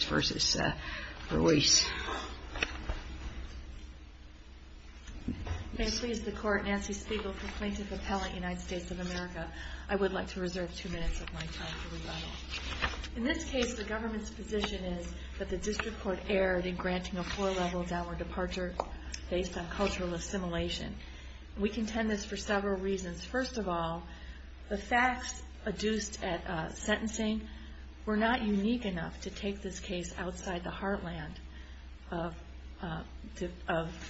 May it please the Court, Nancy Spiegel for Plaintiff Appellant, United States of America. I would like to reserve two minutes of my time for rebuttal. In this case, the government's position is that the District Court erred in granting a four-level downward departure based on cultural assimilation. We contend this for several reasons. First of all, the case outside the heartland of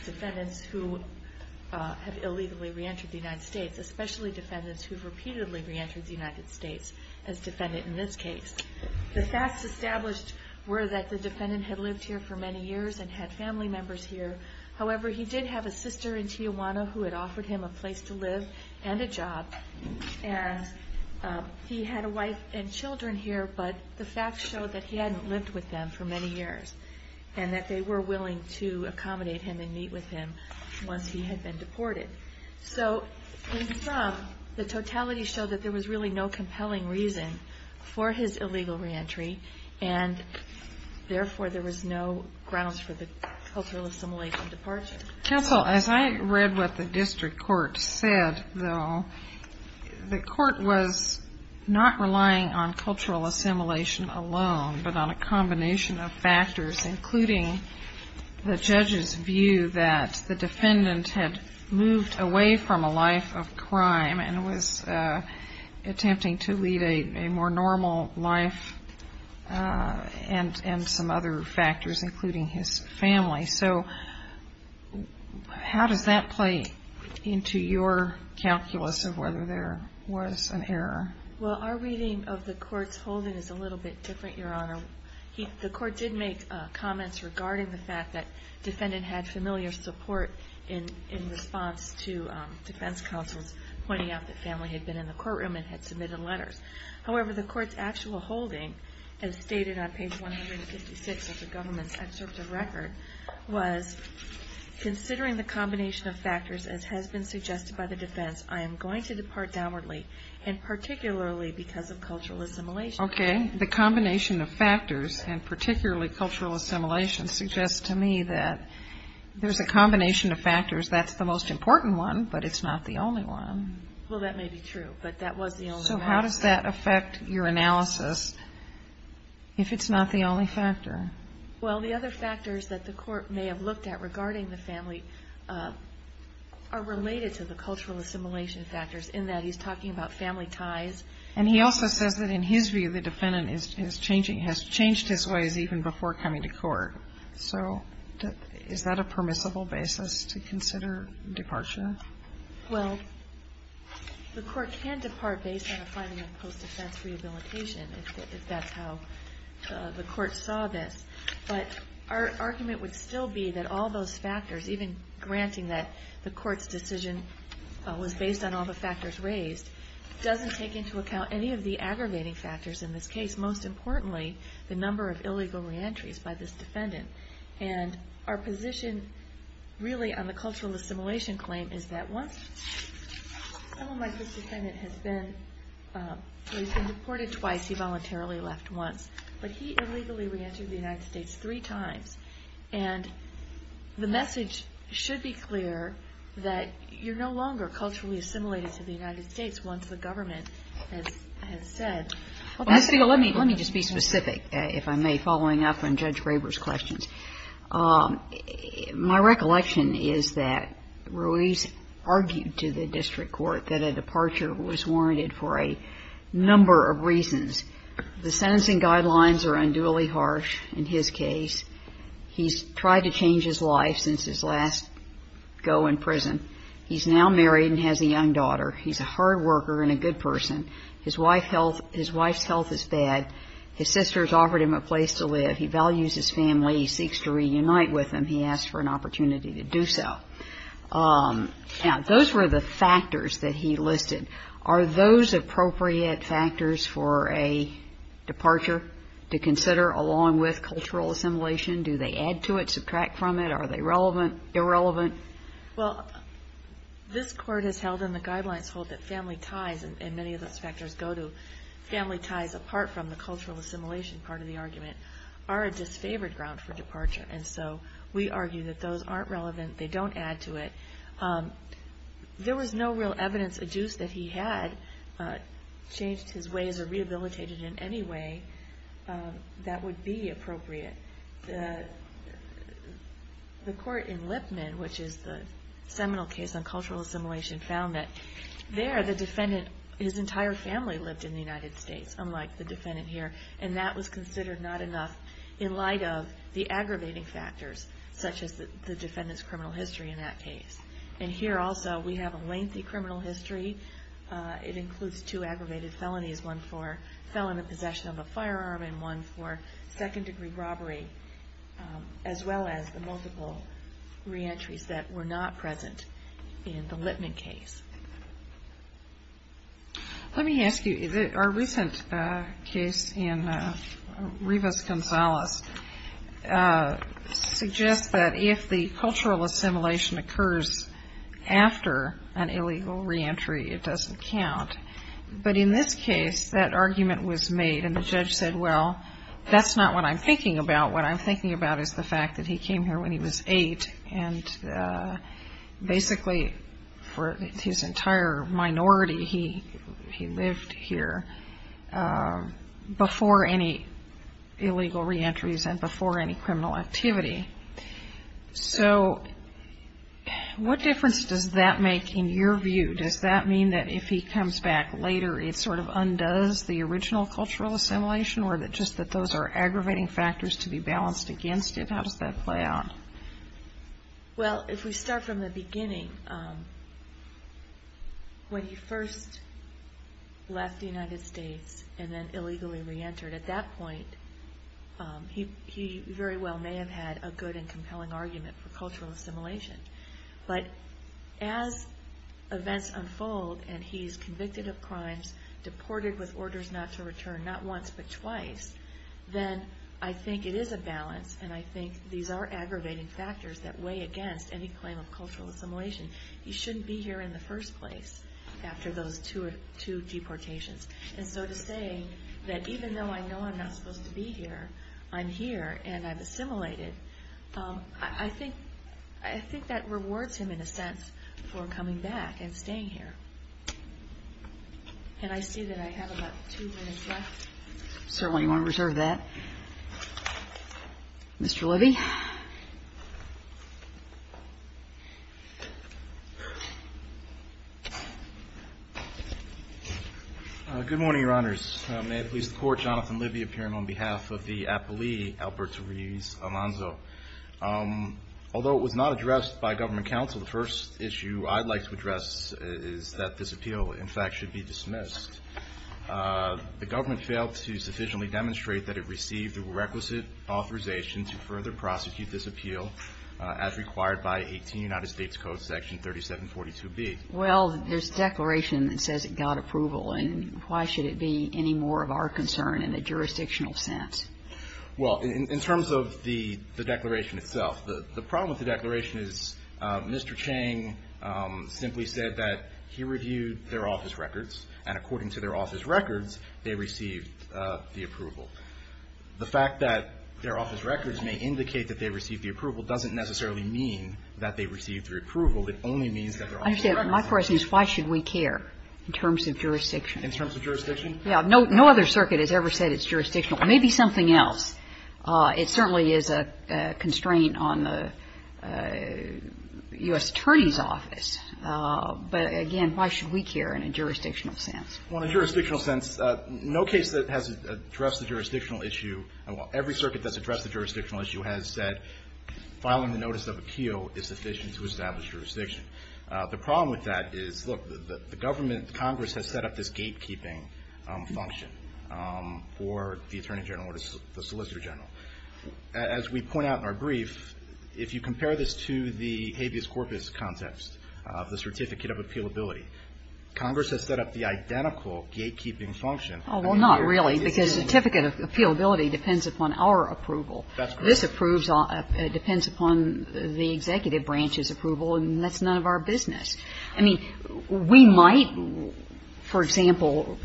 defendants who have illegally reentered the United States, especially defendants who have repeatedly reentered the United States as defendant in this case. The facts established were that the defendant had lived here for many years and had family members here. However, he did have a sister in Tijuana who had offered him a place to live and a job, and he had a wife and children here, but the facts showed that he hadn't lived with them for many years, and that they were willing to accommodate him and meet with him once he had been deported. So, in sum, the totality showed that there was really no compelling reason for his illegal reentry, and therefore there was no grounds for the cultural assimilation departure. Counsel, as I read what the District Court said, though, the Court was not relying on but on a combination of factors, including the judge's view that the defendant had moved away from a life of crime and was attempting to lead a more normal life, and some other factors, including his family. So how does that play into your calculus of whether there was an error? Well, our reading of the Court's holding is a little bit different, Your Honor. The Court did make comments regarding the fact that the defendant had familiar support in response to defense counsels pointing out that family had been in the courtroom and had submitted letters. However, the Court's actual holding, as stated on page 156 of the government's excerpt of record, was, considering the combination of factors as has been suggested by the defense, I am going to depart downwardly, and particularly because of cultural assimilation. Okay. The combination of factors, and particularly cultural assimilation, suggests to me that there's a combination of factors. That's the most important one, but it's not the only one. Well, that may be true, but that was the only one. So how does that affect your analysis if it's not the only factor? Well, the other factors that the Court may have looked at regarding the family are related to the cultural assimilation factors, in that he's talking about family ties. And he also says that in his view, the defendant has changed his ways even before coming to court. So is that a permissible basis to consider departure? Well, the Court can depart based on a finding of post-defense rehabilitation, if that's how the Court saw this. But our argument would still be that all those factors, even granting that the Court's decision was based on all the factors raised, doesn't take into account any of the aggravating factors in this case. Most importantly, the number of illegal reentries by this defendant. And our position, really, on the cultural assimilation claim is that once someone like this defendant has been reported twice, he voluntarily left once. But he illegally reentered the United States three times. And the message should be clear that you're no longer culturally assimilated to the United States once the government has said. Let me just be specific, if I may, following up on Judge Graber's questions. My recollection is that Ruiz argued to the district court that a departure was warranted for a number of reasons. The sentencing guidelines are unduly harsh in his case. He's tried to change his life since his last go in prison. He's now married and has a young daughter. He's a hard worker and a good person. His wife's health is bad. His sisters offered him a place to live. He values his family. He seeks to reunite with them. He asked for an opportunity to do so. Now, those were the factors that he listed. Are those appropriate factors for a departure to consider along with cultural assimilation? Do they add to it, subtract from it? Are they relevant, irrelevant? Well, this Court has held in the guidelines hold that family ties, and many of those factors go to family ties apart from the cultural assimilation part of the argument, are a disfavored ground for departure. And so we argue that those aren't relevant. They don't add to it. There was no real evidence adduced that he had changed his ways or rehabilitated in any way that would be appropriate. The court in Lipman, which is the seminal case on cultural assimilation, found that there, the defendant, his entire family lived in the United States, unlike the defendant here, and that was considered not enough in light of the aggravating factors such as the defendant's criminal history in that case. And here also, we have a lengthy criminal history. It includes two aggravated felonies, one for felon in possession of a firearm and one for second degree robbery, as well as the multiple reentries that were not present in the Lipman case. Let me ask you, our recent case in Rivas-Gonzalez suggests that if the cultural assimilation occurs after an illegal reentry, it doesn't count. But in this case, that argument was made, and the judge said, well, that's not what I'm thinking about. What I'm thinking about is the fact that he came here when he was eight, and basically, for his entire minority, he lived here before any illegal reentries and before any criminal activity. So what difference does that make in your view? Does that mean that if he comes back later, it sort of undoes the original cultural assimilation, or just that those are aggravating factors to be balanced against it? How does that play out? Well, if we start from the beginning, when he first left the United States and then illegally reentered, at that point, he very well may have had a good and compelling argument for cultural assimilation. But as events unfold, and he's convicted of crimes, deported with I think it is a balance, and I think these are aggravating factors that weigh against any claim of cultural assimilation. He shouldn't be here in the first place after those two deportations. And so to say that even though I know I'm not supposed to be here, I'm here, and I've assimilated, I think that rewards him in a sense for coming back and staying here. And I see that I have about two minutes left. Certainly want to reserve that. Mr. Libby. Good morning, Your Honors. May it please the Court, Jonathan Libby appearing on behalf of the appellee, Albert Ruiz Alonzo. Although it was not addressed by government counsel, the first issue I'd like to address is that this appeal, in fact, should be dismissed. The government failed to sufficiently demonstrate that it received the requisite authorization to further prosecute this appeal as required by 18 United States Code section 3742B. Well, there's a declaration that says it got approval, and why should it be any more of our concern in a jurisdictional sense? Well, in terms of the declaration itself, the problem with the declaration is Mr. Chang simply said that he reviewed their office records, and according to their office records, they received the approval. The fact that their office records may indicate that they received the approval doesn't necessarily mean that they received the approval. It only means that their office records are. I understand. My question is why should we care in terms of jurisdiction? In terms of jurisdiction? Yeah. No other circuit has ever said it's jurisdictional. Maybe something else. It certainly is a constraint on the U.S. Attorney's Office, but again, why should we care in a jurisdictional sense? Well, in a jurisdictional sense, no case that has addressed the jurisdictional issue, every circuit that's addressed the jurisdictional issue has said filing the notice of appeal is sufficient to establish jurisdiction. The problem with that is, look, the government, Congress has set up this gatekeeping function for the Attorney General or the Solicitor General. As we point out in our brief, if you compare this to the habeas corpus context of the certificate of appealability, Congress has set up the identical gatekeeping function. Oh, well, not really, because certificate of appealability depends upon our approval. That's correct. This approves all the executive branch's approval, and that's none of our business. I mean, we might, for example,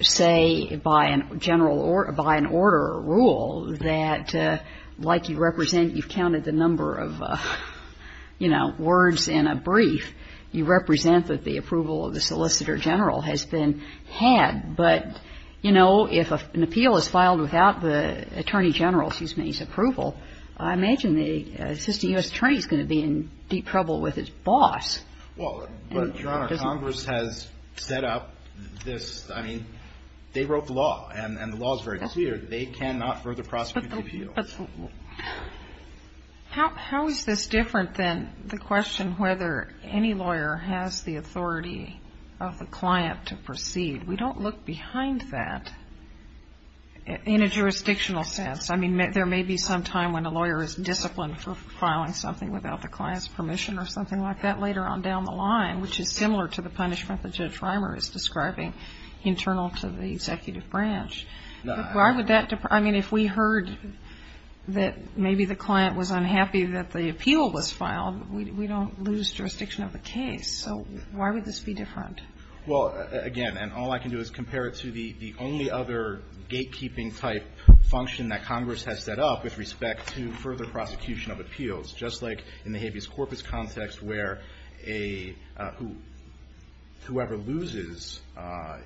say by a general or by an order or rule that, like you represent, you've counted the number of, you know, words in a brief, you represent that the approval of the Solicitor General has been had. But, you know, if an appeal is filed without the Attorney General's, excuse me, his approval, I imagine the Assistant U.S. Attorney is going to be in deep trouble with his boss. Well, but, Your Honor, Congress has set up this, I mean, they wrote the law, and the law is very clear. They cannot further prosecute the appeal. How is this different than the question whether any lawyer has the authority of the client to proceed? We don't look behind that in a jurisdictional sense. I mean, there may be some time when a lawyer is disciplined for filing something without the client's permission or something like that later on down the line, which is similar to the punishment that Judge Reimer is describing internal to the executive branch. But why would that, I mean, if we heard that maybe the client was unhappy that the appeal was filed, we don't lose jurisdiction of the case. So why would this be different? Well, again, and all I can do is compare it to the only other gatekeeping-type function that Congress has set up with respect to further prosecution of appeals, just like in the habeas corpus context where whoever loses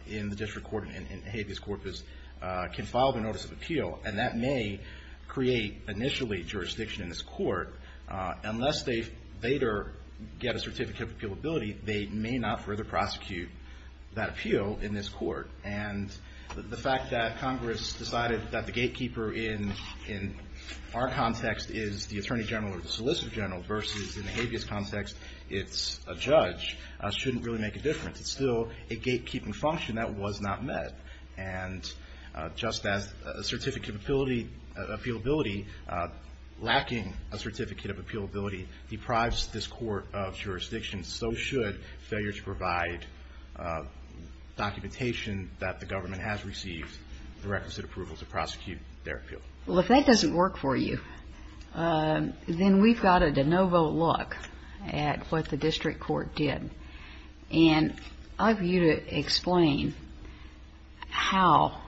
in the district court in habeas corpus can file the notice of appeal. And that may create, initially, jurisdiction in this court. Unless they later get a certificate of appealability, they may not further prosecute that appeal in this court. And the fact that Congress decided that the gatekeeper in our context is the Attorney General or the Solicitor General versus, in the habeas context, it's a judge, shouldn't really make a difference. It's still a gatekeeping function that was not met. And just as a certificate of appealability, lacking a certificate of appealability, deprives this court of jurisdiction, so should failure to provide documentation that the government has received the requisite approval to prosecute their appeal. Well, if that doesn't work for you, then we've got a de novo look at what the district court did. And I'd like for you to explain how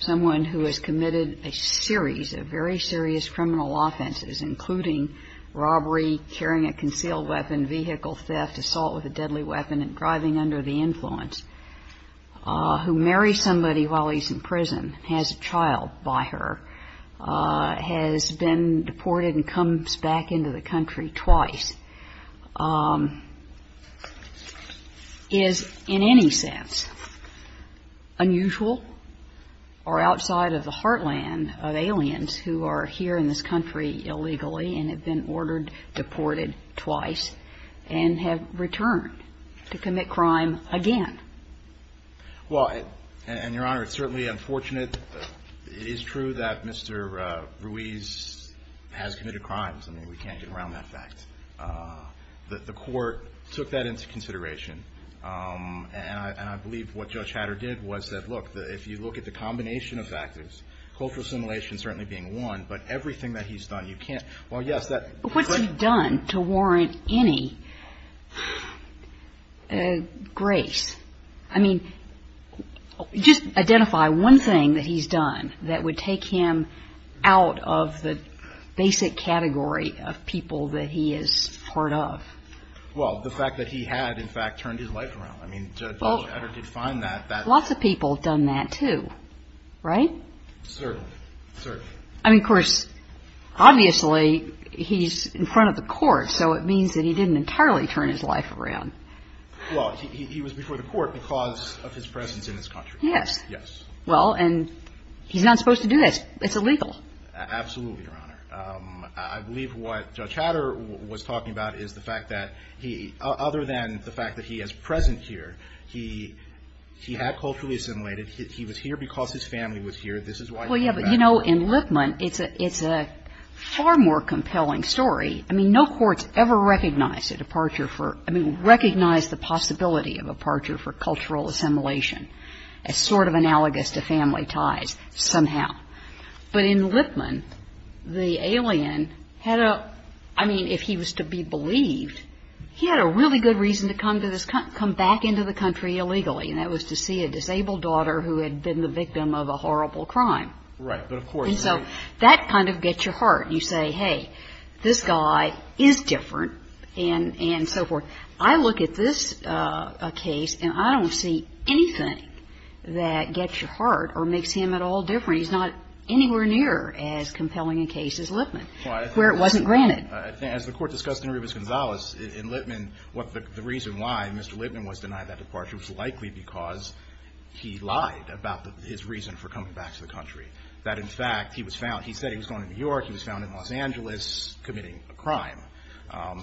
someone who has committed a series of very serious criminal offenses, including robbery, carrying a concealed weapon, vehicle theft, assault with a deadly weapon and driving under the influence, who marries somebody while he's in prison, has a child by her, has been deported and comes back into the country twice, is in any sense unusual or outside of the heartland of aliens who are here in this country illegally and have been ordered, deported twice and have never returned to commit crime again? Well, and, Your Honor, it's certainly unfortunate. It is true that Mr. Ruiz has committed crimes. I mean, we can't get around that fact. The court took that into consideration. And I believe what Judge Hatter did was that, look, if you look at the combination of factors, cultural assimilation certainly being one, but everything that he's done, you can't. What's he done to warrant any grace? I mean, just identify one thing that he's done that would take him out of the basic category of people that he is part of. Well, the fact that he had, in fact, turned his life around. I mean, Judge Hatter did find that. Lots of people have done that, too, right? Certainly. Certainly. I mean, of course, obviously, he's in front of the court. So it means that he didn't entirely turn his life around. Well, he was before the court because of his presence in this country. Yes. Yes. Well, and he's not supposed to do that. It's illegal. Absolutely, Your Honor. I believe what Judge Hatter was talking about is the fact that he, other than the fact that he is present here, he had culturally assimilated. He was here because his family was here. This is why he came back. Right. But, you know, in Lipman, it's a far more compelling story. I mean, no court's ever recognized a departure for – I mean, recognized the possibility of a departure for cultural assimilation as sort of analogous to family ties somehow. But in Lipman, the alien had a – I mean, if he was to be believed, he had a really good reason to come back into the country illegally, and that was to see a disabled daughter who had been the victim of a horrible crime. Right. But of course – And so that kind of gets your heart. You say, hey, this guy is different, and so forth. I look at this case, and I don't see anything that gets your heart or makes him at all different. He's not anywhere near as compelling a case as Lipman, where it wasn't granted. As the Court discussed in Rubens-Gonzalez, in Lipman, what the reason why Mr. Lipman was denied that departure was likely because he lied about his reason for coming back to the country, that, in fact, he was found – he said he was going to New York. He was found in Los Angeles committing a crime.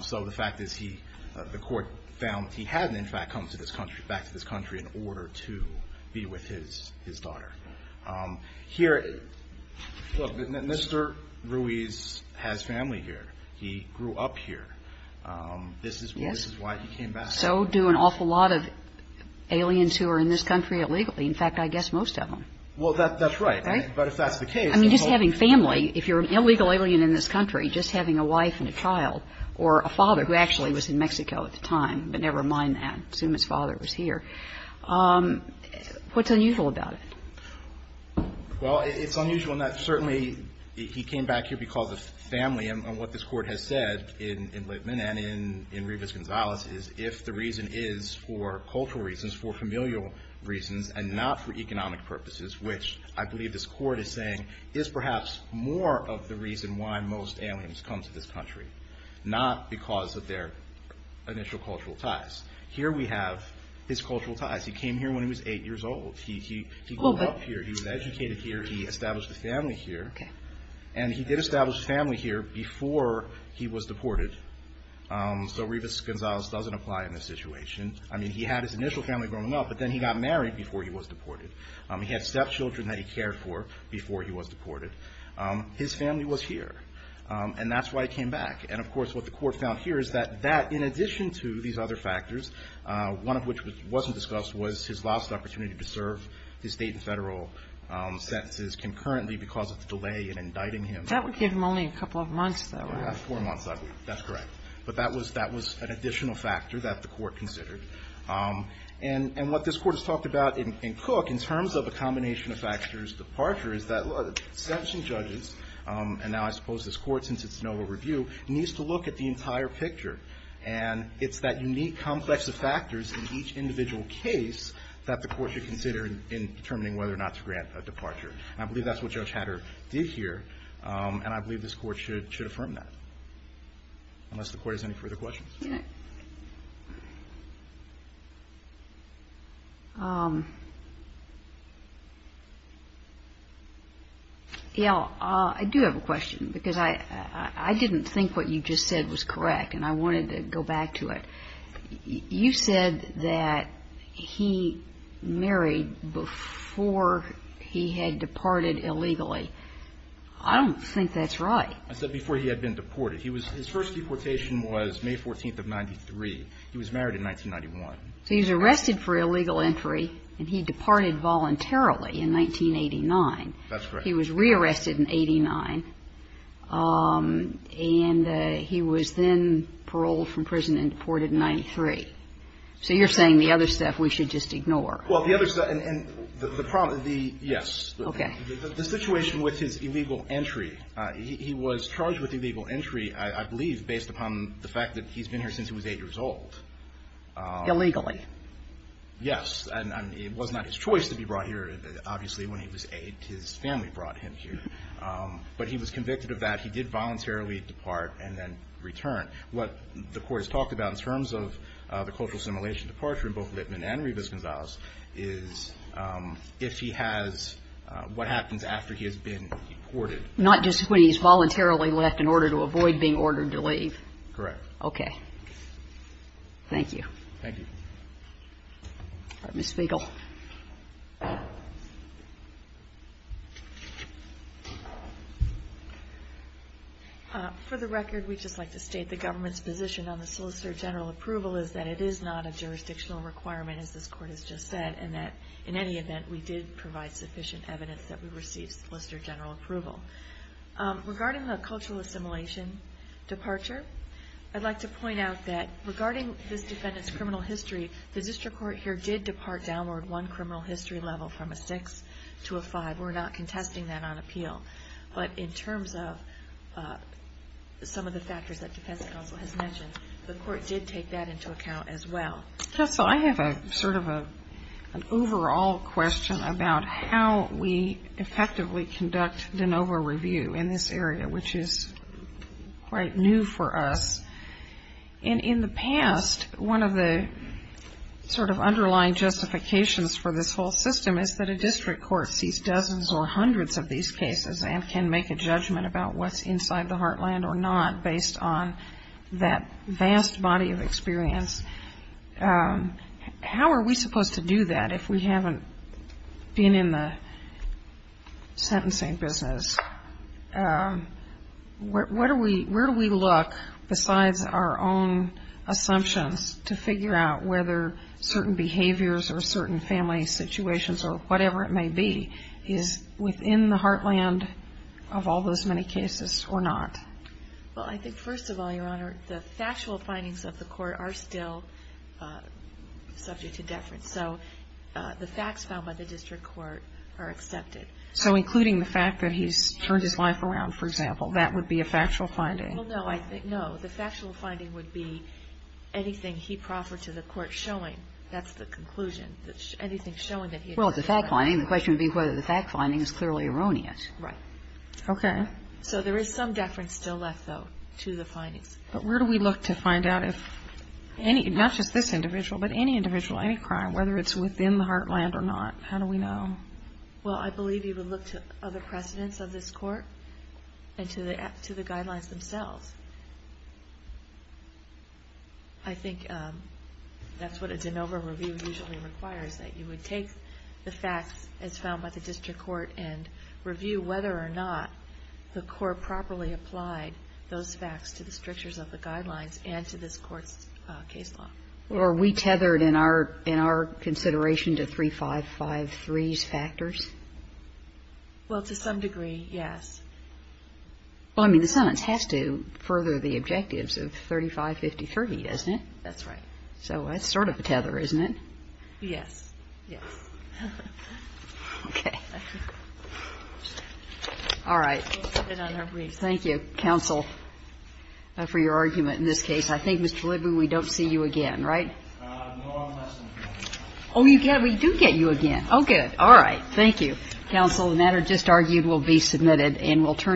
So the fact is he – the Court found that he hadn't, in fact, come to this country – back to this country in order to be with his daughter. Here – look, Mr. Ruiz has family here. He grew up here. This is why he came back. So do an awful lot of aliens who are in this country illegally. In fact, I guess most of them. Well, that's right. Right? But if that's the case – I mean, just having family. If you're an illegal alien in this country, just having a wife and a child or a father who actually was in Mexico at the time, but never mind that. Assume his father was here. What's unusual about it? Well, it's unusual in that certainly he came back here because of family. And what this Court has said in Lipman and in Rubens-Gonzalez is if the reason is for cultural reasons, for familial reasons, and not for economic purposes, which I believe this Court is saying is perhaps more of the reason why most aliens come to this country, not because of their initial cultural ties. Here we have his cultural ties. He came here when he was eight years old. He grew up here. He was educated here. He established a family here. And he did establish a family here before he was deported. So Rubens-Gonzalez doesn't apply in this situation. I mean, he had his initial family growing up, but then he got married before he was deported. He had stepchildren that he cared for before he was deported. His family was here. And that's why he came back. And, of course, what the Court found here is that that, in addition to these other factors, one of which wasn't discussed was his lost opportunity to serve his state and federal sentences concurrently because of the delay in indicting him. That would give him only a couple of months, though, right? Four months, that's correct. But that was an additional factor that the Court considered. And what this Court has talked about in Cook, in terms of a combination of factors, departure, is that sentencing judges, and now I suppose this Court, since it's no overview, needs to look at the entire picture. And it's that unique complex of factors in each individual case that the Court should consider in determining whether or not to grant a departure. And I believe that's what Judge Hatter did here. And I believe this Court should affirm that, unless the Court has any further questions. Yeah. I do have a question because I didn't think what you just said was correct, and I wanted to go back to it. You said that he married before he had departed illegally. I don't think that's right. I said before he had been deported. His first deportation was May 14th of 1993. He was married in 1991. So he was arrested for illegal entry, and he departed voluntarily in 1989. That's correct. He was re-arrested in 89, and he was then paroled from prison and deported in 93. So you're saying the other stuff we should just ignore. Well, the other stuff, and the problem, yes. Okay. The situation with his illegal entry, he was charged with illegal entry, I believe, based upon the fact that he's been here since he was 8 years old. Illegally. Yes. It was not his choice to be brought here, obviously. When he was 8, his family brought him here. But he was convicted of that. He did voluntarily depart and then return. What the court has talked about in terms of the cultural assimilation departure in both Lippman and Rivas-Gonzalez is if he has what happens after he has been deported. Not just when he's voluntarily left in order to avoid being ordered to leave. Correct. Okay. Thank you. Thank you. Ms. Spiegel. For the record, we'd just like to state the government's position on the solicitor general approval is that it is not a jurisdictional requirement, as this Court has just said, and that in any event, we did provide sufficient evidence that we received solicitor general approval. Regarding the cultural assimilation departure, I'd like to point out that regarding this defendant's criminal history, the district court here did depart downward one criminal history level from a 6 to a 5. We're not contesting that on appeal. But in terms of some of the factors that defense counsel has mentioned, the court did take that into account as well. Counsel, I have sort of an overall question about how we effectively conduct de novo review in this area, which is quite new for us. In the past, one of the sort of underlying justifications for this whole system is that a district court sees dozens or hundreds of these cases and can make a judgment about what's inside the heartland or not based on that vast body of experience. How are we supposed to do that if we haven't been in the sentencing business? Where do we look besides our own assumptions to figure out whether certain behaviors or certain family situations or whatever it may be is within the heartland of all those many cases or not? Well, I think, first of all, Your Honor, the factual findings of the court are still subject to deference. So the facts found by the district court are accepted. So including the fact that he's turned his life around, for example, that would be a factual finding? Well, no. No. The factual finding would be anything he proffered to the court showing that's the conclusion, anything showing that he had turned his life around. Well, it's a fact finding. The question would be whether the fact finding is clearly erroneous. Okay. So there is some deference still left, though, to the findings. But where do we look to find out if any, not just this individual, but any individual, any crime, whether it's within the heartland or not? How do we know? Well, I believe you would look to other precedents of this court and to the guidelines themselves. I think that's what a de novo review usually requires, that you would take the facts as found by the district court and review whether or not the court properly applied those facts to the strictures of the guidelines and to this Court's case law. Well, are we tethered in our consideration to 3553's factors? Well, to some degree, yes. Well, I mean, the sentence has to further the objectives of 3553, doesn't it? That's right. So that's sort of a tether, isn't it? Yes. Yes. Okay. All right. Thank you, counsel, for your argument in this case. I think, Mr. Libby, we don't see you again, right? No, I'm listening. Oh, you do get you again. Oh, good. All right. Thank you, counsel. The matter just argued will be submitted and we'll turn it back to you.